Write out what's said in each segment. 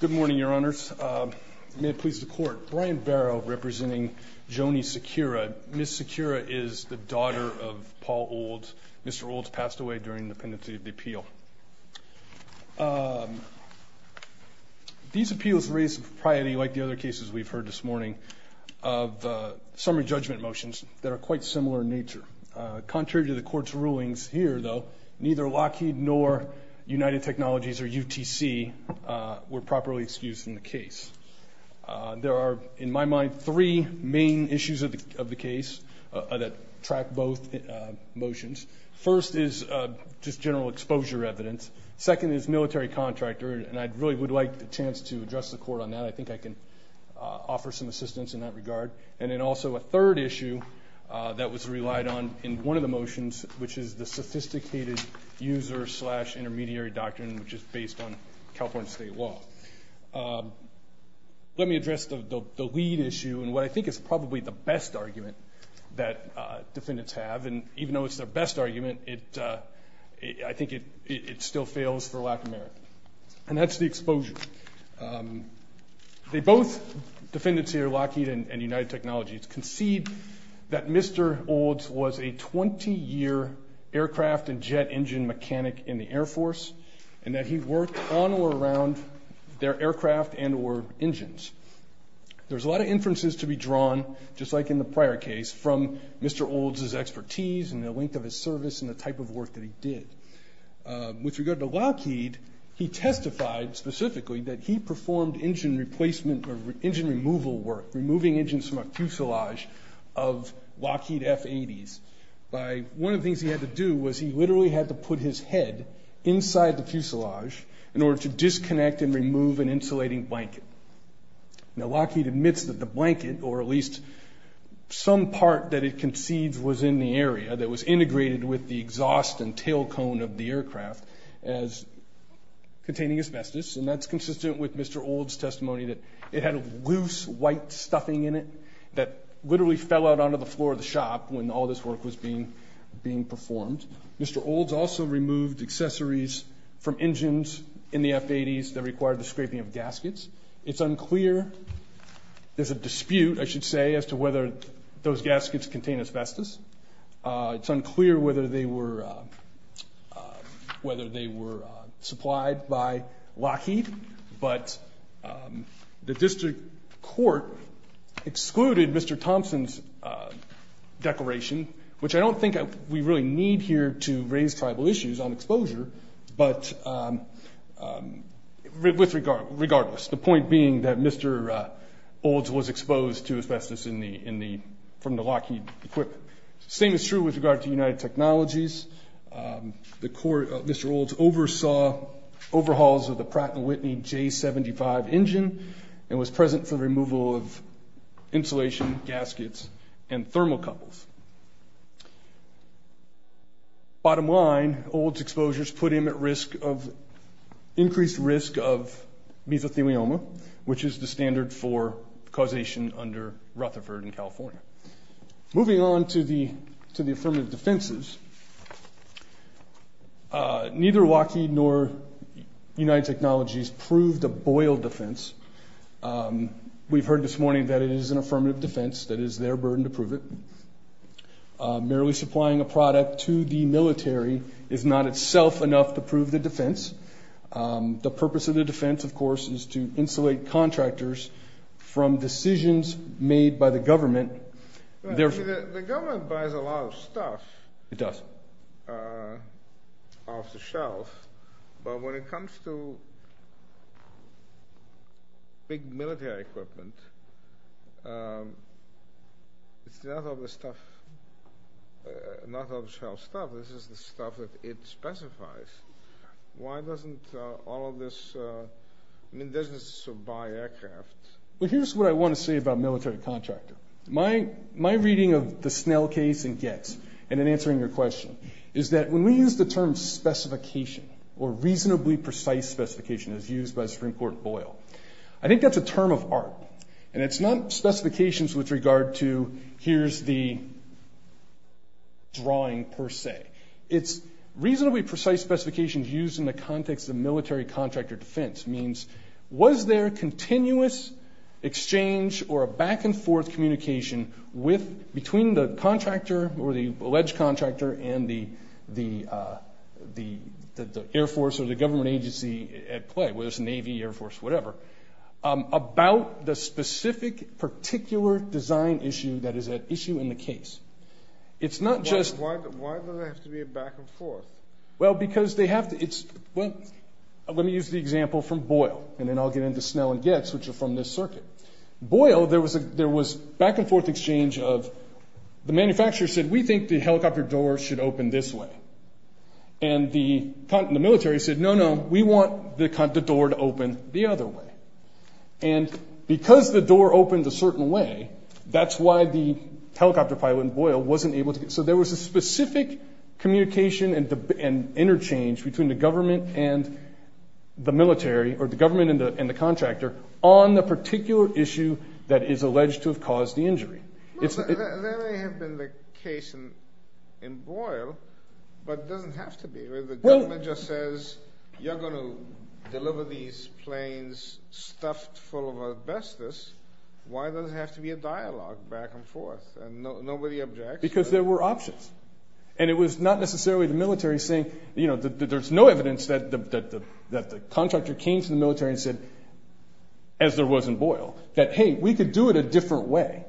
Good morning, Your Honors. May it please the Court, Brian Barrow representing Joni Sequira. Ms. Sequira is the daughter of Paul Olds. Mr. Olds passed away during the pendency of the appeal. These appeals raise the priority, like the other cases we've heard this morning, of summary judgment motions that are quite similar in nature. Contrary to the Court's rulings here, though, neither Lockheed nor United Technologies or UTC were properly excused in the case. There are, in my mind, three main issues of the case that track both motions. First is just general exposure evidence. Second is military contractor. And I really would like the chance to address the Court on that. I think I can offer some assistance in that regard. And then also a third issue that was relied on in one of the motions, which is the sophisticated user-slash-intermediary doctrine, which is based on California state law. Let me address the lead issue and what I think is probably the best argument that defendants have. And even though it's their best argument, I think it still fails for lack of merit, and that's the exposure. They both, defendants here, Lockheed and United Technologies, concede that Mr. Olds was a 20-year aircraft and jet engine mechanic in the Air Force and that he worked on or around their aircraft and or engines. There's a lot of inferences to be drawn, just like in the prior case, from Mr. Olds' expertise and the length of his service and the type of work that he did. With regard to Lockheed, he testified specifically that he performed engine replacement or engine removal work, removing engines from a fuselage of Lockheed F-80s. One of the things he had to do was he literally had to put his head inside the fuselage in order to disconnect and remove an insulating blanket. Now, Lockheed admits that the blanket or at least some part that it concedes was in the area that was integrated with the exhaust and tail cone of the aircraft as containing asbestos, and that's consistent with Mr. Olds' testimony that it had a loose white stuffing in it that literally fell out onto the floor of the shop when all this work was being performed. Mr. Olds also removed accessories from engines in the F-80s that required the scraping of gaskets. It's unclear. There's a dispute, I should say, as to whether those gaskets contain asbestos. It's unclear whether they were supplied by Lockheed, but the district court excluded Mr. Thompson's declaration, which I don't think we really need here to raise tribal issues on exposure, but regardless, the point being that Mr. Olds was exposed to asbestos from the Lockheed equipment. The same is true with regard to United Technologies. Mr. Olds oversaw overhauls of the Pratt & Whitney J-75 engine and was present for the removal of insulation, gaskets, and thermocouples. Bottom line, Olds' exposures put him at increased risk of mesothelioma, which is the standard for causation under Rutherford in California. Moving on to the affirmative defenses, neither Lockheed nor United Technologies proved a boil defense. We've heard this morning that it is an affirmative defense, that it is their burden to prove it. Merely supplying a product to the military is not itself enough to prove the defense. The purpose of the defense, of course, is to insulate contractors from decisions made by the government. The government buys a lot of stuff off the shelf, but when it comes to big military equipment, it's not off the shelf stuff, this is the stuff that it specifies. Why doesn't all of this, I mean, doesn't this buy aircraft? Well, here's what I want to say about military contractor. My reading of the Snell case and Getz, and in answering your question, is that when we use the term specification or reasonably precise specification as used by Supreme Court Boyle, I think that's a term of art, and it's not specifications with regard to here's the drawing per se. It's reasonably precise specifications used in the context of military contractor defense, means was there continuous exchange or a back-and-forth communication between the contractor or the alleged contractor and the Air Force or the government agency at play, whether it's Navy, Air Force, whatever, about the specific particular design issue that is at issue in the case. It's not just... Why does it have to be a back-and-forth? Well, because they have to. Let me use the example from Boyle, and then I'll get into Snell and Getz, which are from this circuit. Boyle, there was back-and-forth exchange of the manufacturer said, we think the helicopter door should open this way. And the military said, no, no, we want the door to open the other way. And because the door opened a certain way, that's why the helicopter pilot in Boyle wasn't able to get... So there was a specific communication and interchange between the government and the military or the government and the contractor on the particular issue that is alleged to have caused the injury. There may have been the case in Boyle, but it doesn't have to be. The government just says, you're going to deliver these planes stuffed full of asbestos. Why does it have to be a dialogue back and forth? And nobody objects. Because there were options. And it was not necessarily the military saying, you know, there's no evidence that the contractor came to the military and said, as there was in Boyle, that, hey, we could do it a different way.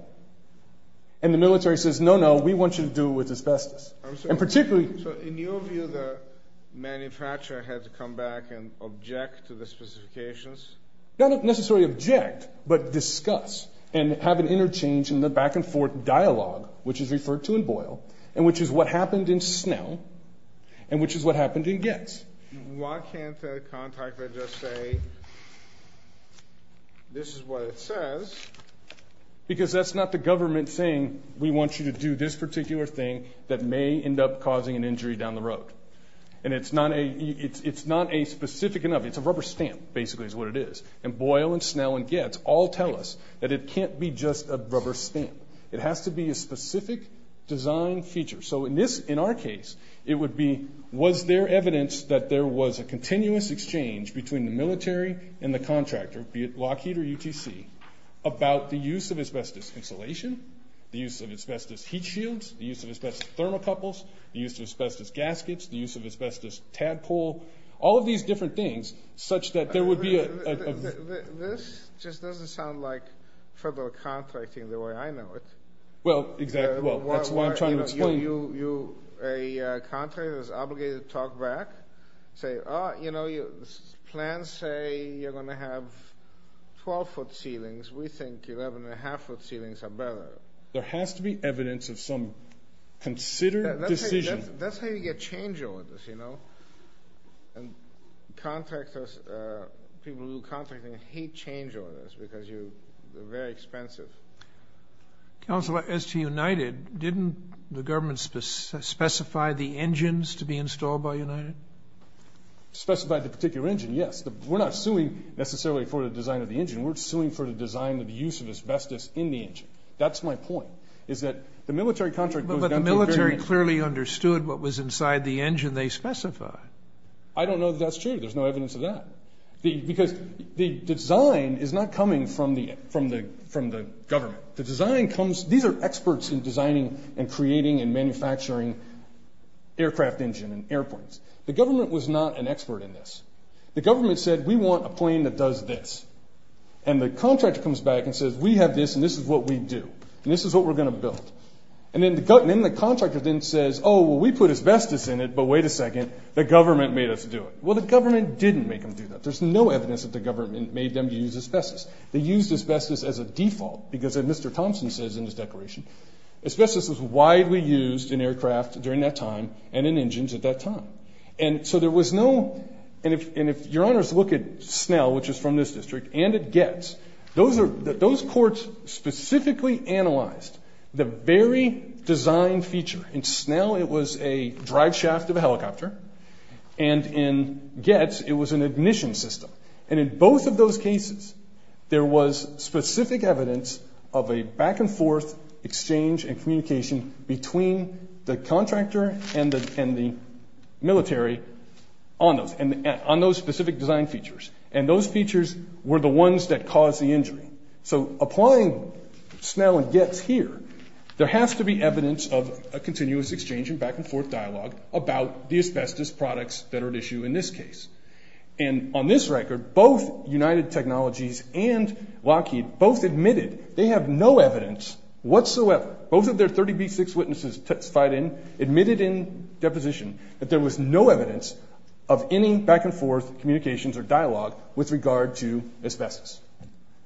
And the military says, no, no, we want you to do it with asbestos. And particularly... So in your view, the manufacturer had to come back and object to the specifications? Not necessarily object, but discuss and have an interchange in the back-and-forth dialogue, which is referred to in Boyle, and which is what happened in Snell, and which is what happened in Getz. Why can't the contractor just say, this is what it says? Because that's not the government saying, we want you to do this particular thing that may end up causing an injury down the road. And it's not specific enough. It's a rubber stamp, basically, is what it is. And Boyle and Snell and Getz all tell us that it can't be just a rubber stamp. It has to be a specific design feature. So in our case, it would be, was there evidence that there was a continuous exchange between the military and the contractor, be it Lockheed or UTC, about the use of asbestos insulation, the use of asbestos heat shields, the use of asbestos thermocouples, the use of asbestos gaskets, the use of asbestos tadpole, all of these different things, such that there would be a... This just doesn't sound like federal contracting the way I know it. Well, exactly. Well, that's what I'm trying to explain. A contractor is obligated to talk back, say, oh, you know, plans say you're going to have 12-foot ceilings. We think 11-and-a-half-foot ceilings are better. There has to be evidence of some considered decision. That's how you get change orders, you know. And contractors, people who do contracting hate change orders because they're very expensive. Counsel, as to United, didn't the government specify the engines to be installed by United? Specify the particular engine, yes. We're not suing necessarily for the design of the engine. We're suing for the design of the use of asbestos in the engine. That's my point, is that the military contract goes down to a very... But the military clearly understood what was inside the engine they specified. I don't know that that's true. There's no evidence of that. Because the design is not coming from the government. The design comes... These are experts in designing and creating and manufacturing aircraft engine and airplanes. The government was not an expert in this. The government said, we want a plane that does this. And the contractor comes back and says, we have this, and this is what we do, and this is what we're going to build. And then the contractor then says, oh, well, we put asbestos in it, but wait a second, the government made us do it. Well, the government didn't make them do that. There's no evidence that the government made them use asbestos. They used asbestos as a default because, as Mr. Thompson says in his declaration, asbestos was widely used in aircraft during that time and in engines at that time. And so there was no... And if Your Honors look at Snell, which is from this district, and at Getz, those courts specifically analyzed the very design feature. In Snell, it was a drive shaft of a helicopter. And in Getz, it was an ignition system. And in both of those cases, there was specific evidence of a back-and-forth exchange and communication between the contractor and the military on those specific design features. And those features were the ones that caused the injury. So applying Snell and Getz here, there has to be evidence of a continuous exchange and back-and-forth dialogue about the asbestos products that are at issue in this case. And on this record, both United Technologies and Lockheed both admitted they have no evidence whatsoever. Both of their 30B6 witnesses testified in, admitted in deposition, that there was no evidence of any back-and-forth communications or dialogue with regard to asbestos,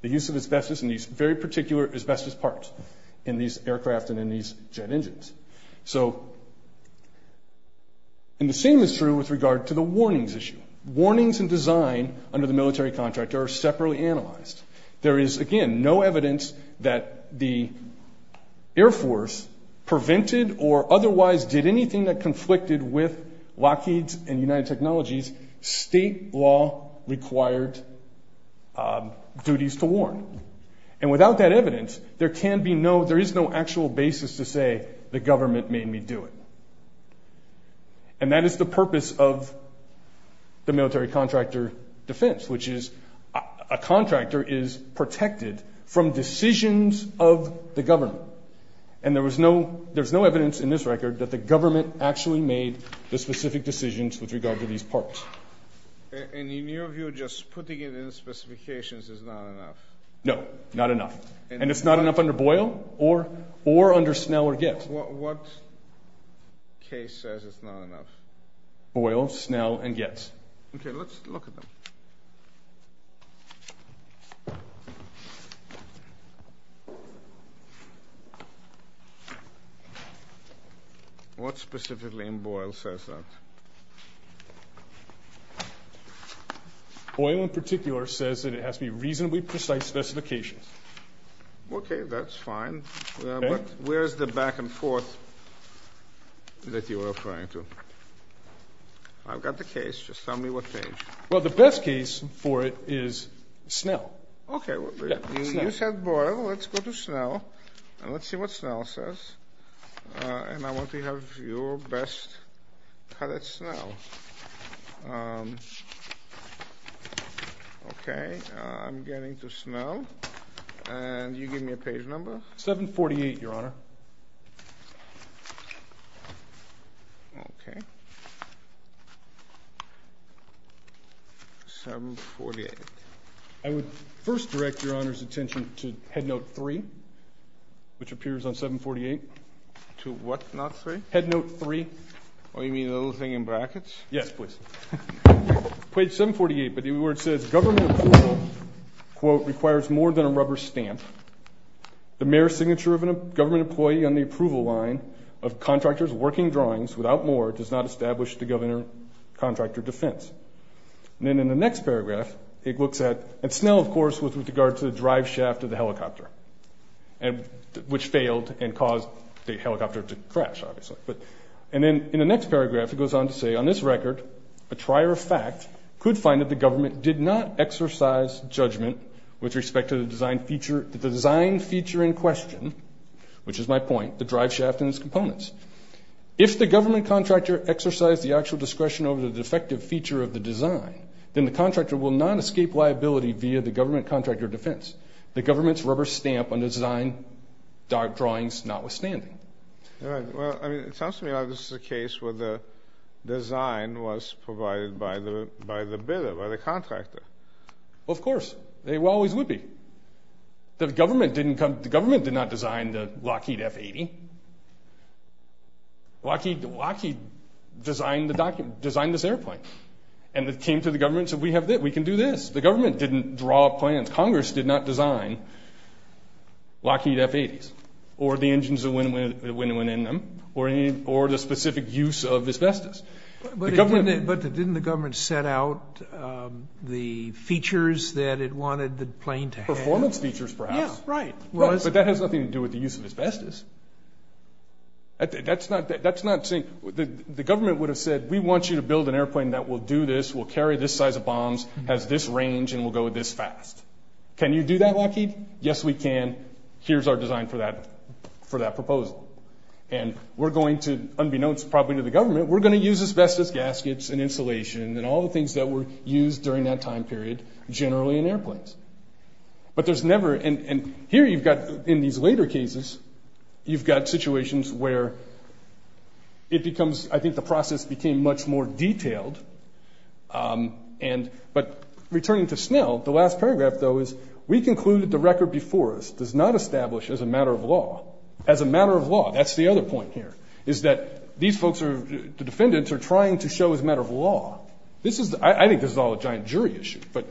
the use of asbestos in these very particular asbestos parts in these aircraft and in these jet engines. So, and the same is true with regard to the warnings issue. Warnings and design under the military contractor are separately analyzed. There is, again, no evidence that the Air Force prevented or otherwise did anything that conflicted with Lockheed's and United Technologies' state law-required duties to warn. And without that evidence, there can be no, there is no actual basis to say the government made me do it. And that is the purpose of the military contractor defense, which is a contractor is protected from decisions of the government. And there was no, there's no evidence in this record that the government actually made the specific decisions with regard to these parts. And in your view, just putting it in specifications is not enough? No, not enough. And it's not enough under Boyle or under Snell or Getz? What case says it's not enough? Boyle, Snell, and Getz. Okay, let's look at them. What specifically in Boyle says that? Boyle in particular says that it has to be reasonably precise specifications. Okay, that's fine. But where is the back and forth that you are referring to? I've got the case. Just tell me what page. Well, the best case for it is Snell. Okay. You said Boyle. Let's go to Snell. And let's see what Snell says. And I want to have your best cut at Snell. Okay, I'm getting to Snell. And you give me a page number? 748, Your Honor. Okay. 748. I would first direct Your Honor's attention to Headnote 3, which appears on 748. To what, Note 3? Headnote 3. Oh, you mean the little thing in brackets? Yes, please. Page 748. But the word says, Government approval, quote, requires more than a rubber stamp. The mere signature of a government employee on the approval line of contractors working drawings without more does not establish the governor-contractor defense. And then in the next paragraph, it looks at, and Snell, of course, was with regard to the driveshaft of the helicopter, which failed and caused the helicopter to crash, obviously. And then in the next paragraph, it goes on to say, On this record, a trier of fact could find that the government did not exercise judgment with respect to the design feature in question, which is my point, the driveshaft and its components. If the government contractor exercised the actual discretion over the defective feature of the design, then the contractor will not escape liability via the government-contractor defense, the government's rubber stamp on design drawings notwithstanding. All right. Well, I mean, it sounds to me like this is a case where the design was provided by the bidder, by the contractor. Well, of course. They always would be. The government did not design the Lockheed F-80. Lockheed designed this airplane. And it came to the government and said, We can do this. The government didn't draw up plans. Congress did not design Lockheed F-80s or the engines that went in them or the specific use of asbestos. But didn't the government set out the features that it wanted the plane to have? Performance features, perhaps. Yeah, right. But that has nothing to do with the use of asbestos. The government would have said, We want you to build an airplane that will do this, will carry this size of bombs, has this range, and will go this fast. Can you do that, Lockheed? Yes, we can. Here's our design for that proposal. And we're going to, unbeknownst probably to the government, we're going to use asbestos gaskets and insulation and all the things that were used during that time period generally in airplanes. But there's never – and here you've got, in these later cases, you've got situations where it becomes – I think the process became much more detailed. But returning to Snell, the last paragraph, though, is, We concluded the record before us does not establish as a matter of law. As a matter of law, that's the other point here, is that these folks, the defendants, are trying to show as a matter of law. I think this is all a giant jury issue. But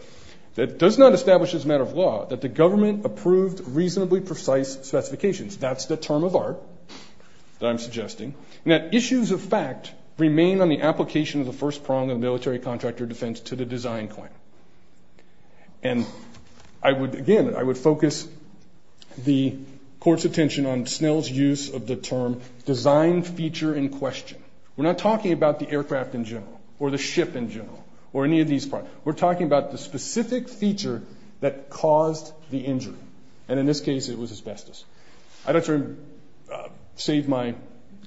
it does not establish as a matter of law that the government approved reasonably precise specifications. That's the term of art that I'm suggesting. And that issues of fact remain on the application of the first prong of military contractor defense to the design claim. And, again, I would focus the Court's attention on Snell's use of the term design feature in question. We're not talking about the aircraft in general or the ship in general or any of these parts. We're talking about the specific feature that caused the injury. And in this case, it was asbestos. I'd like to save my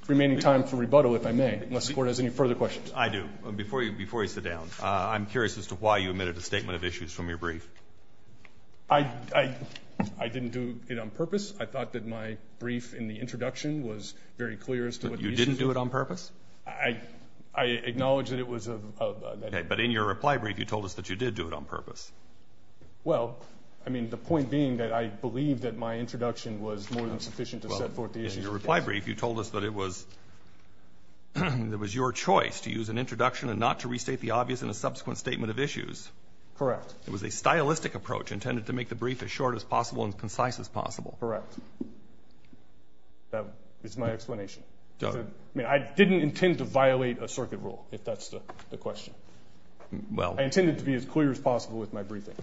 remaining time for rebuttal, if I may, unless the Court has any further questions. I do. Before you sit down, I'm curious as to why you omitted a statement of issues from your brief. I didn't do it on purpose. I thought that my brief in the introduction was very clear as to what the issue was. But you didn't do it on purpose? I acknowledge that it was a – Okay, but in your reply brief, you told us that you did do it on purpose. Well, I mean, the point being that I believe that my introduction was more than sufficient to set forth the issue. In your reply brief, you told us that it was your choice to use an introduction and not to restate the obvious in a subsequent statement of issues. It was a stylistic approach intended to make the brief as short as possible and concise as possible. Correct. That is my explanation. I mean, I didn't intend to violate a circuit rule, if that's the question. I intended to be as clear as possible with my briefing.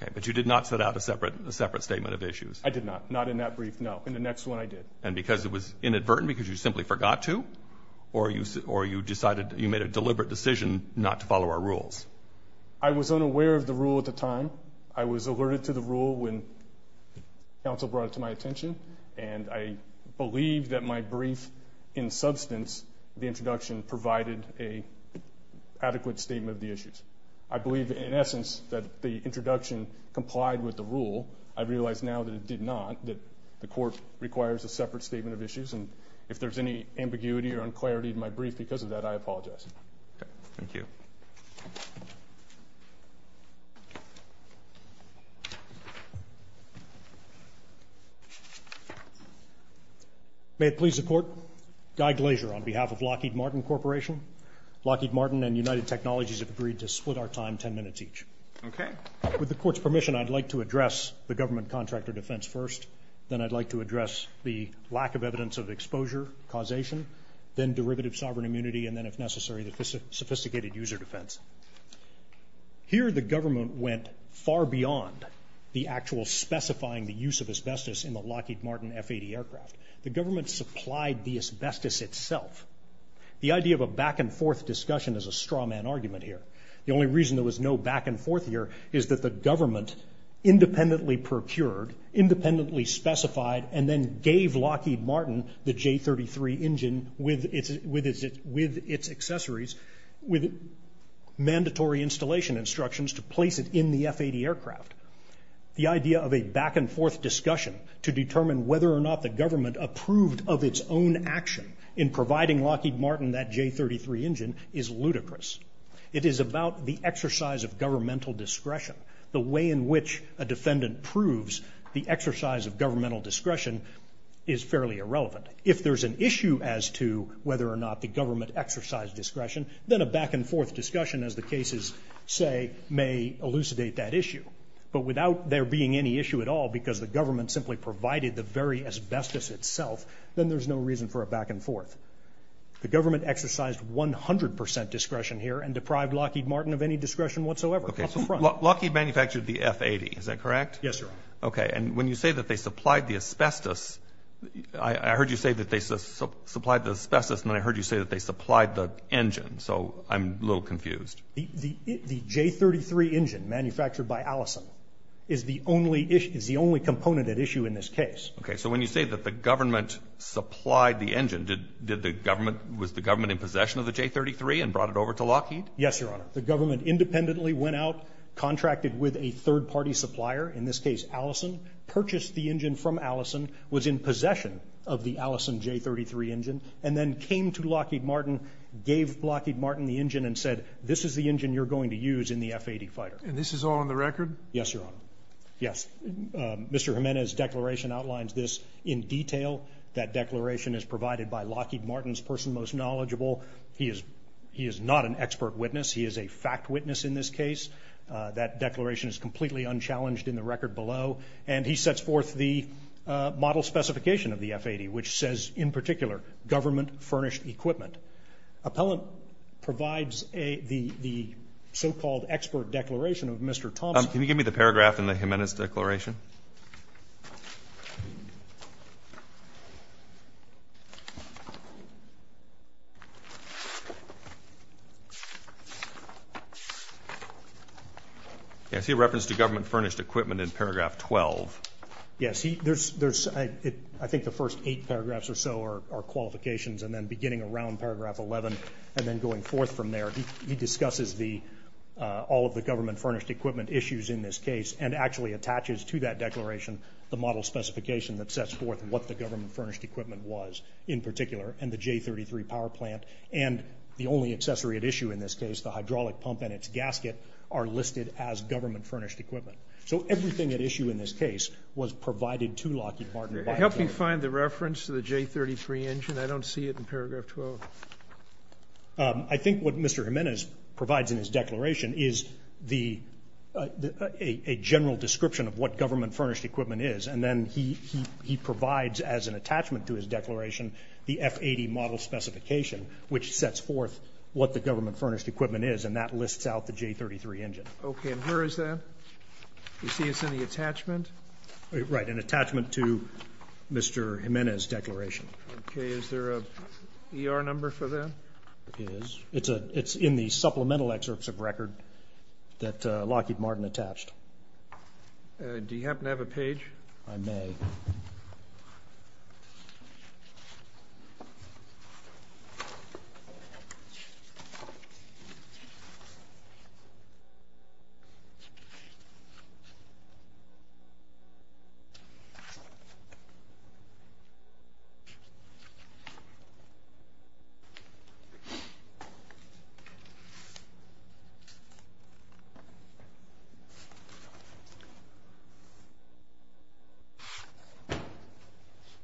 Okay, but you did not set out a separate statement of issues. I did not. Not in that brief, no. In the next one, I did. And because it was inadvertent, because you simply forgot to, or you decided – you made a deliberate decision not to follow our rules? I was unaware of the rule at the time. I was alerted to the rule when counsel brought it to my attention, and I believe that my brief, in substance, the introduction provided an adequate statement of the issues. I believe, in essence, that the introduction complied with the rule. I realize now that it did not, that the court requires a separate statement of issues, and if there's any ambiguity or unclarity in my brief because of that, I apologize. Okay, thank you. Thank you. May it please the Court, Guy Glazier on behalf of Lockheed Martin Corporation. Lockheed Martin and United Technologies have agreed to split our time ten minutes each. Okay. With the Court's permission, I'd like to address the government contractor defense first, then I'd like to address the lack of evidence of exposure, causation, then derivative sovereign immunity, and then, if necessary, the sophisticated user defense. Here, the government went far beyond the actual specifying the use of asbestos in the Lockheed Martin F-80 aircraft. The government supplied the asbestos itself. The idea of a back-and-forth discussion is a strawman argument here. The only reason there was no back-and-forth here is that the government independently procured, independently specified, and then gave Lockheed Martin the J33 engine with its accessories, with mandatory installation instructions to place it in the F-80 aircraft. The idea of a back-and-forth discussion to determine whether or not the government approved of its own action in providing Lockheed Martin that J33 engine is ludicrous. It is about the exercise of governmental discretion. The way in which a defendant proves the exercise of governmental discretion is fairly irrelevant. If there's an issue as to whether or not the government exercised discretion, then a back-and-forth discussion, as the cases say, may elucidate that issue. But without there being any issue at all because the government simply provided the very asbestos itself, then there's no reason for a back-and-forth. The government exercised 100 percent discretion here and deprived Lockheed Martin of any discretion whatsoever up front. Lockheed manufactured the F-80, is that correct? Yes, sir. Okay, and when you say that they supplied the asbestos, I heard you say that they supplied the asbestos, and then I heard you say that they supplied the engine, so I'm a little confused. The J33 engine manufactured by Allison is the only component at issue in this case. Okay, so when you say that the government supplied the engine, was the government in possession of the J33 and brought it over to Lockheed? Yes, Your Honor. The government independently went out, contracted with a third-party supplier, in this case Allison, purchased the engine from Allison, was in possession of the Allison J33 engine, and then came to Lockheed Martin, gave Lockheed Martin the engine and said, this is the engine you're going to use in the F-80 fighter. And this is all on the record? Yes, Your Honor. Yes. Mr. Jimenez's declaration outlines this in detail. That declaration is provided by Lockheed Martin's person most knowledgeable. He is not an expert witness. He is a fact witness in this case. That declaration is completely unchallenged in the record below. And he sets forth the model specification of the F-80, which says in particular, government furnished equipment. Appellant provides the so-called expert declaration of Mr. Thompson. Can you give me the paragraph in the Jimenez declaration? I see a reference to government furnished equipment in paragraph 12. Yes. I think the first eight paragraphs or so are qualifications, and then beginning around paragraph 11 and then going forth from there. He discusses all of the government furnished equipment issues in this case and actually attaches to that declaration the model specification that sets forth what the government furnished equipment was in particular and the J-33 power plant. And the only accessory at issue in this case, the hydraulic pump and its gasket are listed as government furnished equipment. So everything at issue in this case was provided to Lockheed Martin. Help me find the reference to the J-33 engine. I don't see it in paragraph 12. I think what Mr. Jimenez provides in his declaration is a general description of what government furnished equipment is, and then he provides as an attachment to his declaration the F-80 model specification, which sets forth what the government furnished equipment is, and that lists out the J-33 engine. Okay. And where is that? You see it's in the attachment? Right, an attachment to Mr. Jimenez's declaration. Okay. Is there an ER number for that? It is. It's in the supplemental excerpts of record that Lockheed Martin attached. Do you happen to have a page? I may.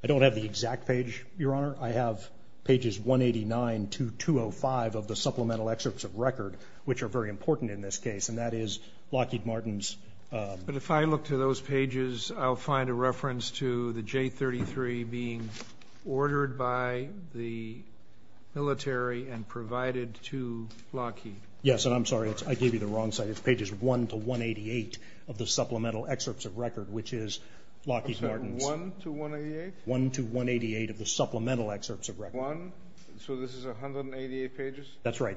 I don't have the exact page, Your Honor. I have pages 189 to 205 of the supplemental excerpts of record, which are very important in this case, and that is Lockheed Martin's. But if I look to those pages, I'll find a reference to the J-33 being ordered by the military and provided to Lockheed. Yes, and I'm sorry. I gave you the wrong site. It's pages 1 to 188 of the supplemental excerpts of record, which is Lockheed Martin's. 1 to 188? 1 to 188 of the supplemental excerpts of record. So this is 188 pages? That's right.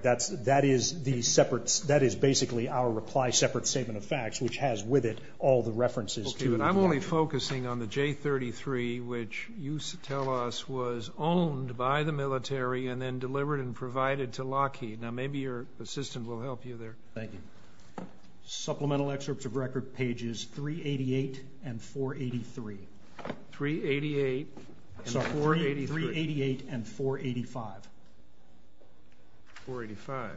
which has with it all the references to Lockheed Martin. I'm only focusing on the J-33, which you tell us was owned by the military and then delivered and provided to Lockheed. Now maybe your assistant will help you there. Thank you. Supplemental excerpts of record, pages 388 and 483. 388 and 483. Sorry, 388 and 485. 485.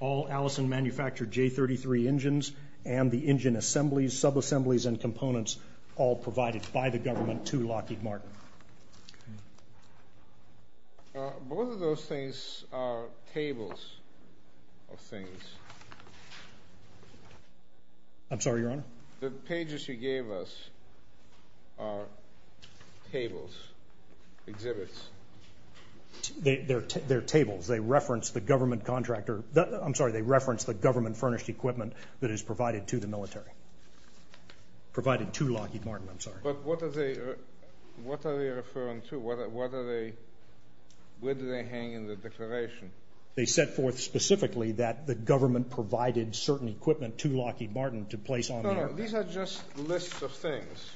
All Allison manufactured J-33 engines and the engine assemblies, subassemblies, and components all provided by the government to Lockheed Martin. Both of those things are tables of things. I'm sorry, Your Honor? The pages you gave us are tables, exhibits. They're tables. They reference the government furnished equipment that is provided to the military, provided to Lockheed Martin, I'm sorry. But what are they referring to? Where do they hang in the declaration? They set forth specifically that the government provided certain equipment to Lockheed Martin to place on the aircraft. No, no, these are just lists of things.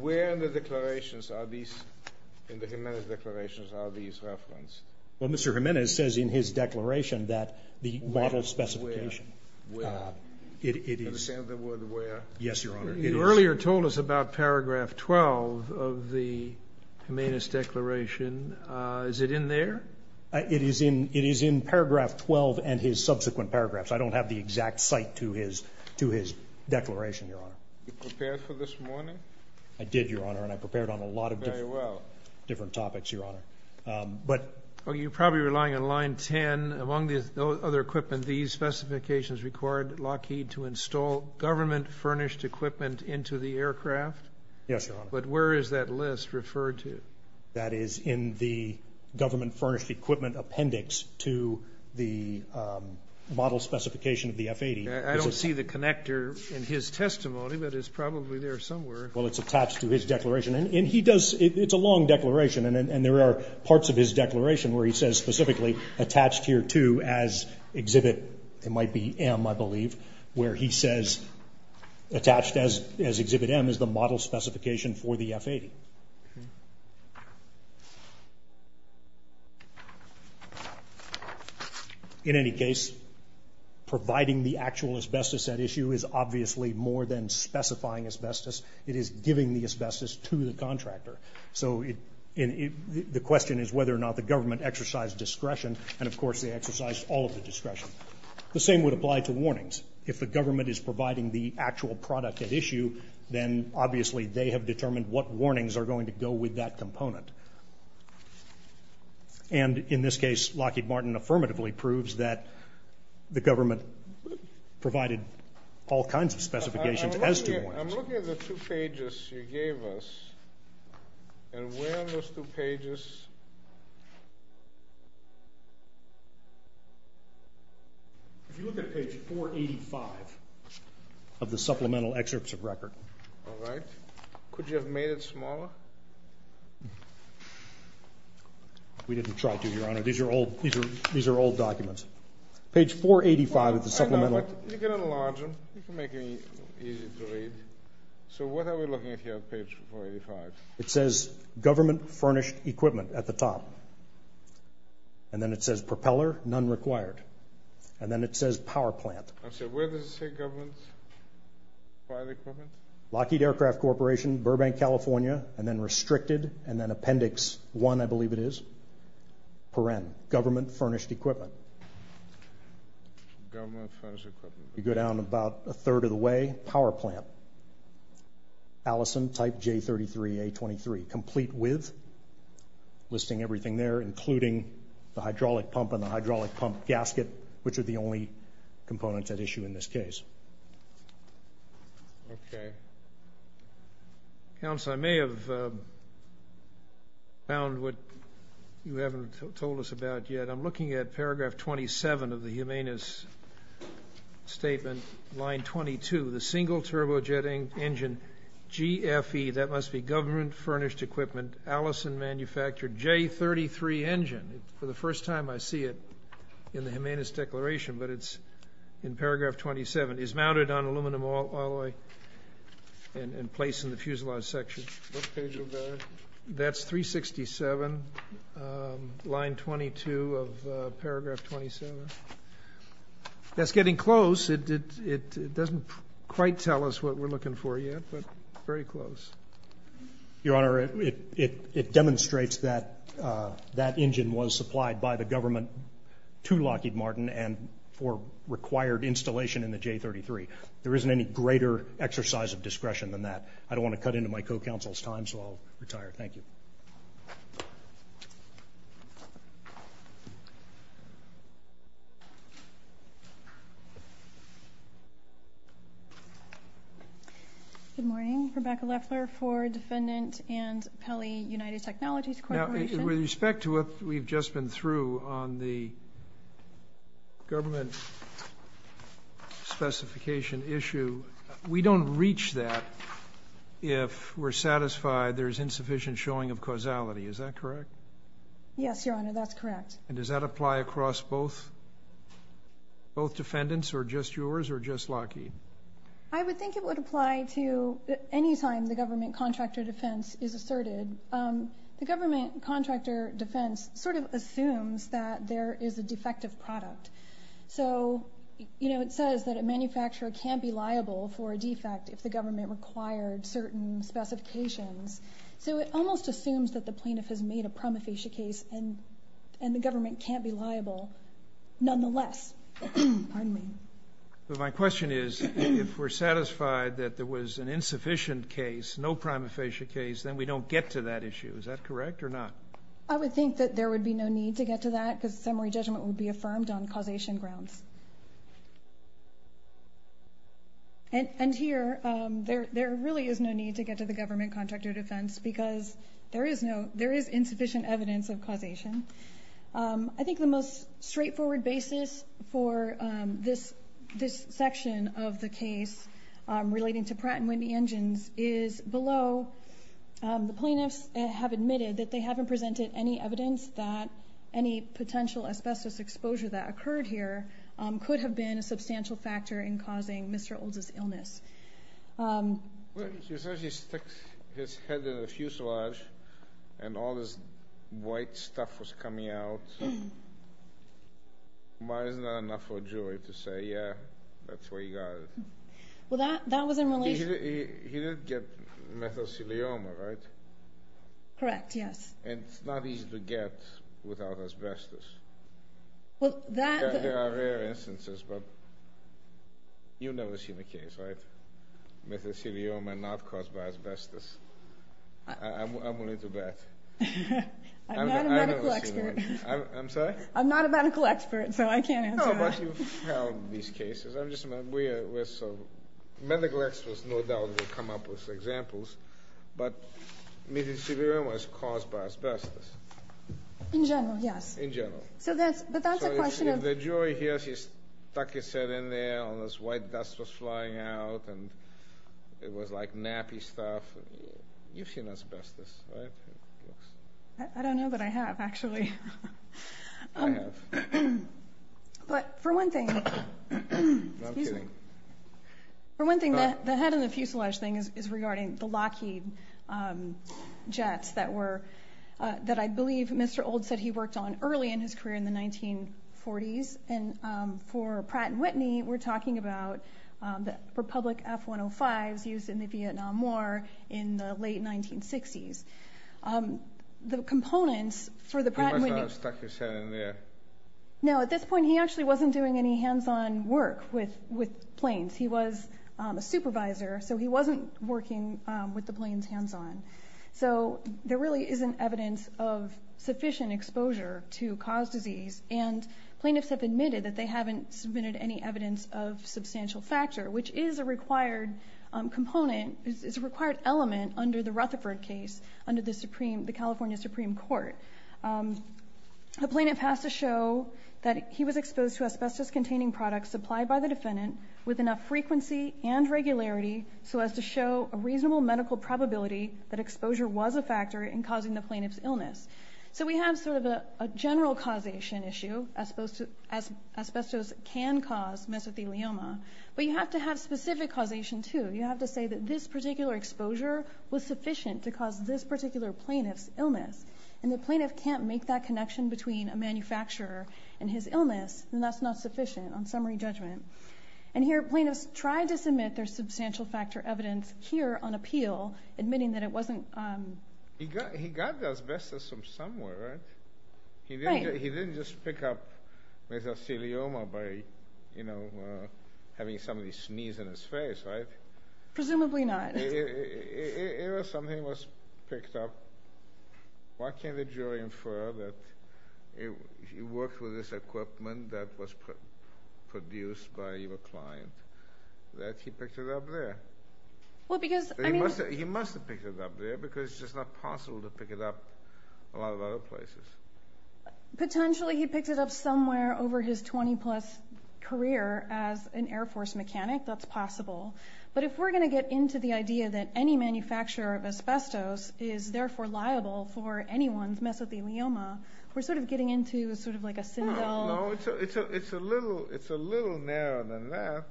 Where in the declarations are these in the Jimenez declarations are these referenced? Well, Mr. Jimenez says in his declaration that the model specification... Where? It is... Can you say the word where? Yes, Your Honor. You earlier told us about paragraph 12 of the Jimenez declaration. Is it in there? It is in paragraph 12 and his subsequent paragraphs. I don't have the exact site to his declaration, Your Honor. You prepared for this morning? I did, Your Honor, and I prepared on a lot of different... Very well. ...different topics, Your Honor. You're probably relying on line 10. Among the other equipment, these specifications required Lockheed to install government-furnished equipment into the aircraft? Yes, Your Honor. But where is that list referred to? That is in the government-furnished equipment appendix to the model specification of the F-80. I don't see the connector in his testimony, but it's probably there somewhere. Well, it's attached to his declaration. And he does... It's a long declaration, and there are parts of his declaration where he says specifically, attached here to as Exhibit... It might be M, I believe, where he says attached as Exhibit M is the model specification for the F-80. Okay. In any case, providing the actual asbestos at issue is obviously more than specifying asbestos. It is giving the asbestos to the contractor. So the question is whether or not the government exercised discretion, and of course they exercised all of the discretion. The same would apply to warnings. If the government is providing the actual product at issue, then obviously they have determined what warnings are going to go with that component. And in this case, Lockheed Martin affirmatively proves that the government provided all kinds of specifications as to warnings. I'm looking at the two pages you gave us, and where are those two pages? If you look at page 485 of the supplemental excerpts of record... All right. Could you have made it smaller? We didn't try to, Your Honor. These are old documents. Page 485 of the supplemental... I know, but you can enlarge them. You can make it easy to read. So what are we looking at here on page 485? It says, Government Furnished Equipment, at the top. And then it says, Propeller, None Required. And then it says, Power Plant. Where does it say, Government Furnished Equipment? Lockheed Aircraft Corporation, Burbank, California, and then Restricted, and then Appendix 1, I believe it is. Paren, Government Furnished Equipment. Government Furnished Equipment. You go down about a third of the way, Power Plant. Allison, Type J33A23, Complete With. Listing everything there, including the hydraulic pump and the hydraulic pump gasket, which are the only components at issue in this case. Okay. Counsel, I may have found what you haven't told us about yet. I'm looking at paragraph 27 of the Humanis statement, line 22. The single turbojet engine, GFE, that must be Government Furnished Equipment, Allison manufactured, J33 engine. For the first time I see it in the Humanis declaration, but it's in paragraph 27. It's mounted on aluminum alloy and placed in the fuselage section. What page are we at? That's 367, line 22 of paragraph 27. That's getting close. It doesn't quite tell us what we're looking for yet, but very close. Your Honor, it demonstrates that that engine was supplied by the government to Lockheed Martin and for required installation in the J33. There isn't any greater exercise of discretion than that. I don't want to cut into my co-counsel's time, so I'll retire. Thank you. Good morning. Rebecca Leffler, Ford Defendant and Pelley United Technologies Corporation. Now, with respect to what we've just been through on the government specification issue, we don't reach that if we're satisfied there's insufficient showing of causality. Is that correct? Yes, Your Honor, that's correct. And does that apply across both both defendants, or just yours, or just Lockheed? I would think it would apply to any time the government contractor defense is asserted. The government contractor defense sort of assumes that there is a defective product. So, you know, it says that a manufacturer can't be liable for a defect if the government required certain specifications. So it almost assumes that the plaintiff has made a nonetheless. Pardon me. But my question is, if we're satisfied that there was an insufficient case, no prima facie case, then we don't get to that issue. Is that correct or not? I would think that there would be no need to get to that because summary judgment would be affirmed on causation grounds. And here, there really is no need to get to the government contractor defense because there is insufficient evidence of causation. I think the most straightforward basis for this section of the case relating to Pratt & Whitney Engines is below. The plaintiffs have admitted that they haven't presented any evidence that any potential asbestos exposure that occurred here could have been a substantial factor in causing Mr. Olds' illness. He said he stuck his head in a fuselage and all this white stuff was coming out. Why isn't that enough for a jury to say, yeah, that's where he got it? Well, that was in relation... He didn't get methicillioma, right? Correct, yes. And it's not easy to get without asbestos. Well, that... There are rare instances, but you've never seen a case, right? Methicillioma not caused by asbestos. I'm willing to bet. I'm not a medical expert. I'm sorry? I'm not a medical expert, so I can't answer that. No, but you've found these cases. I'm just... Medical experts no doubt will come up with examples, but methicillioma was caused by asbestos. In general, yes. In general. But that's a question of... So if the jury hears he stuck his head in there and all this white dust was flying out and it was like nappy stuff, you've seen asbestos, right? I don't know that I have, actually. I have. But for one thing... No, I'm kidding. For one thing, the head in the fuselage thing is regarding the Lockheed jets that I believe Mr. Old said he worked on early in his career in the 1940s. And for Pratt & Whitney, we're talking about the Republic F-105s used in the Vietnam War in the late 1960s. The components for the Pratt & Whitney... He must not have stuck his head in there. No, at this point, he actually wasn't doing any hands-on work with planes. He was a supervisor, so he wasn't working with the planes hands-on. So there really isn't evidence of sufficient exposure to cause disease, and plaintiffs have admitted that they haven't submitted any evidence of substantial factor, which is a required component, is a required element under the Rutherford case under the California Supreme Court. The plaintiff has to show that he was exposed to asbestos-containing products supplied by the defendant with enough frequency and regularity so as to show a reasonable medical probability that exposure was a factor in causing the plaintiff's illness. So we have sort of a general causation issue asbestos can cause mesothelioma, but you have to have specific causation, too. You have to say that this particular exposure was sufficient to cause this particular plaintiff's illness, and the plaintiff can't make that connection between a manufacturer and his illness, and that's not sufficient on summary judgment. And here, plaintiffs tried to submit their substantial factor evidence here on appeal, admitting that it wasn't... He got the asbestos from somewhere, right? He didn't just pick up mesothelioma by having somebody sneeze in his face, right? Presumably not. If something was picked up, why can't the jury infer that he worked with this equipment that was produced by your client, that he picked it up there? He must have picked it up there, because it's just not possible to pick it up a lot of other places. Potentially he picked it up somewhere over his 20-plus career as an Air Force mechanic. That's possible. But if we're going to get into the idea that any manufacturer of asbestos is therefore liable for anyone's mesothelioma, we're sort of getting into sort of like a Sindel... No, it's a little narrower than that,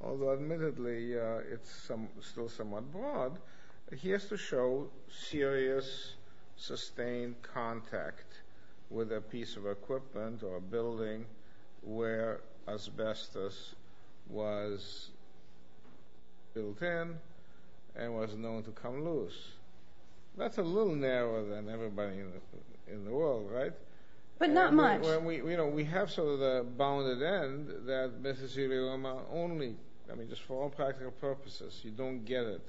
although admittedly it's still somewhat broad. He has to show serious sustained contact with a piece of equipment or a building where asbestos was built in and was known to come loose. That's a little narrower than everybody in the world, right? But not much. We have sort of the bounded end that mesothelioma only, I mean, just for all practical purposes, you don't get it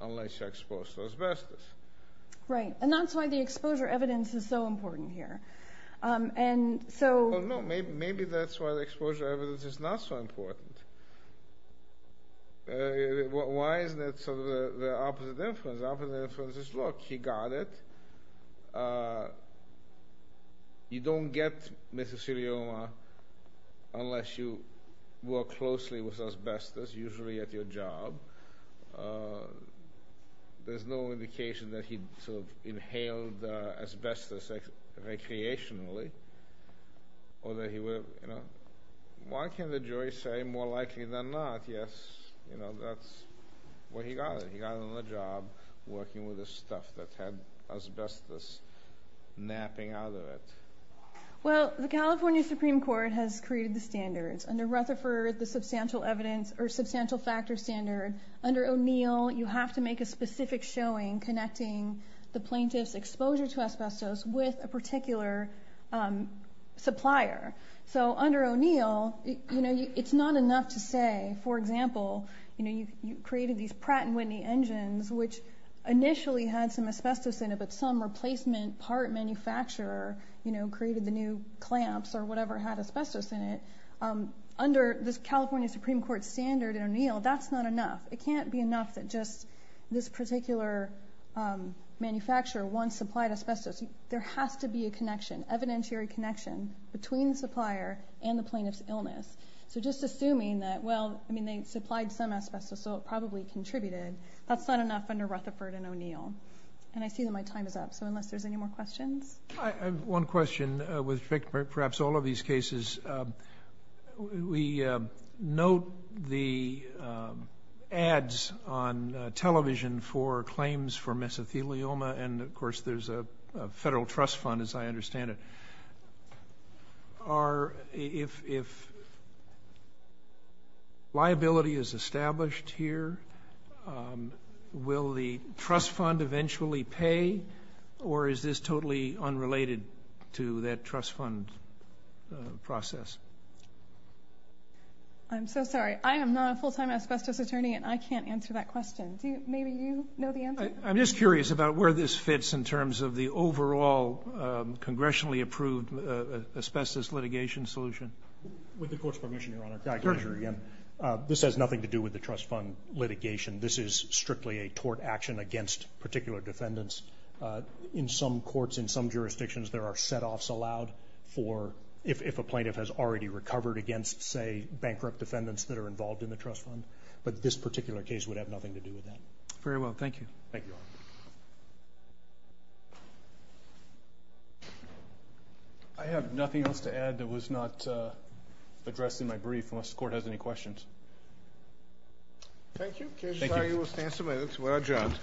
unless you're exposed to asbestos. Right, and that's why the exposure evidence is so important here. Well, no, maybe that's why the exposure evidence is not so important. Why isn't it sort of the opposite inference? The opposite inference is, look, he got it. You don't get mesothelioma unless you work closely with asbestos, which is usually at your job. There's no indication that he sort of inhaled asbestos recreationally or that he would have, you know. Why can't the jury say more likely than not, yes, you know, that's where he got it. He got it on the job working with the stuff that had asbestos napping out of it. Well, the California Supreme Court has created the standards. Under Rutherford, the substantial factor standard. Under O'Neill, you have to make a specific showing connecting the plaintiff's exposure to asbestos with a particular supplier. So under O'Neill, it's not enough to say, for example, you created these Pratt & Whitney engines, which initially had some asbestos in it, but some replacement part manufacturer created the new clamps or whatever had asbestos in it. Under this California Supreme Court standard in O'Neill, that's not enough. It can't be enough that just this particular manufacturer once supplied asbestos. There has to be a connection, evidentiary connection, between the supplier and the plaintiff's illness. So just assuming that, well, I mean, they supplied some asbestos, so it probably contributed. That's not enough under Rutherford and O'Neill. And I see that my time is up, so unless there's any more questions. I have one question with respect to perhaps all of these cases. We note the ads on television for claims for mesothelioma, and of course there's a federal trust fund, as I understand it. If liability is established here, will the trust fund eventually pay or is this totally unrelated to that trust fund process? I'm so sorry. I am not a full-time asbestos attorney, and I can't answer that question. Maybe you know the answer. I'm just curious about where this fits in terms of the overall congressionally approved asbestos litigation solution. With the Court's permission, Your Honor. This has nothing to do with the trust fund litigation. This is strictly a tort action against particular defendants. In some courts, in some jurisdictions, there are set-offs allowed if a plaintiff has already recovered against, say, bankrupt defendants that are involved in the trust fund. But this particular case would have nothing to do with that. Very well. Thank you. Thank you, Your Honor. I have nothing else to add that was not addressed in my brief unless the Court has any questions. Thank you. Case is signed. We will stand for a minute. We're adjourned.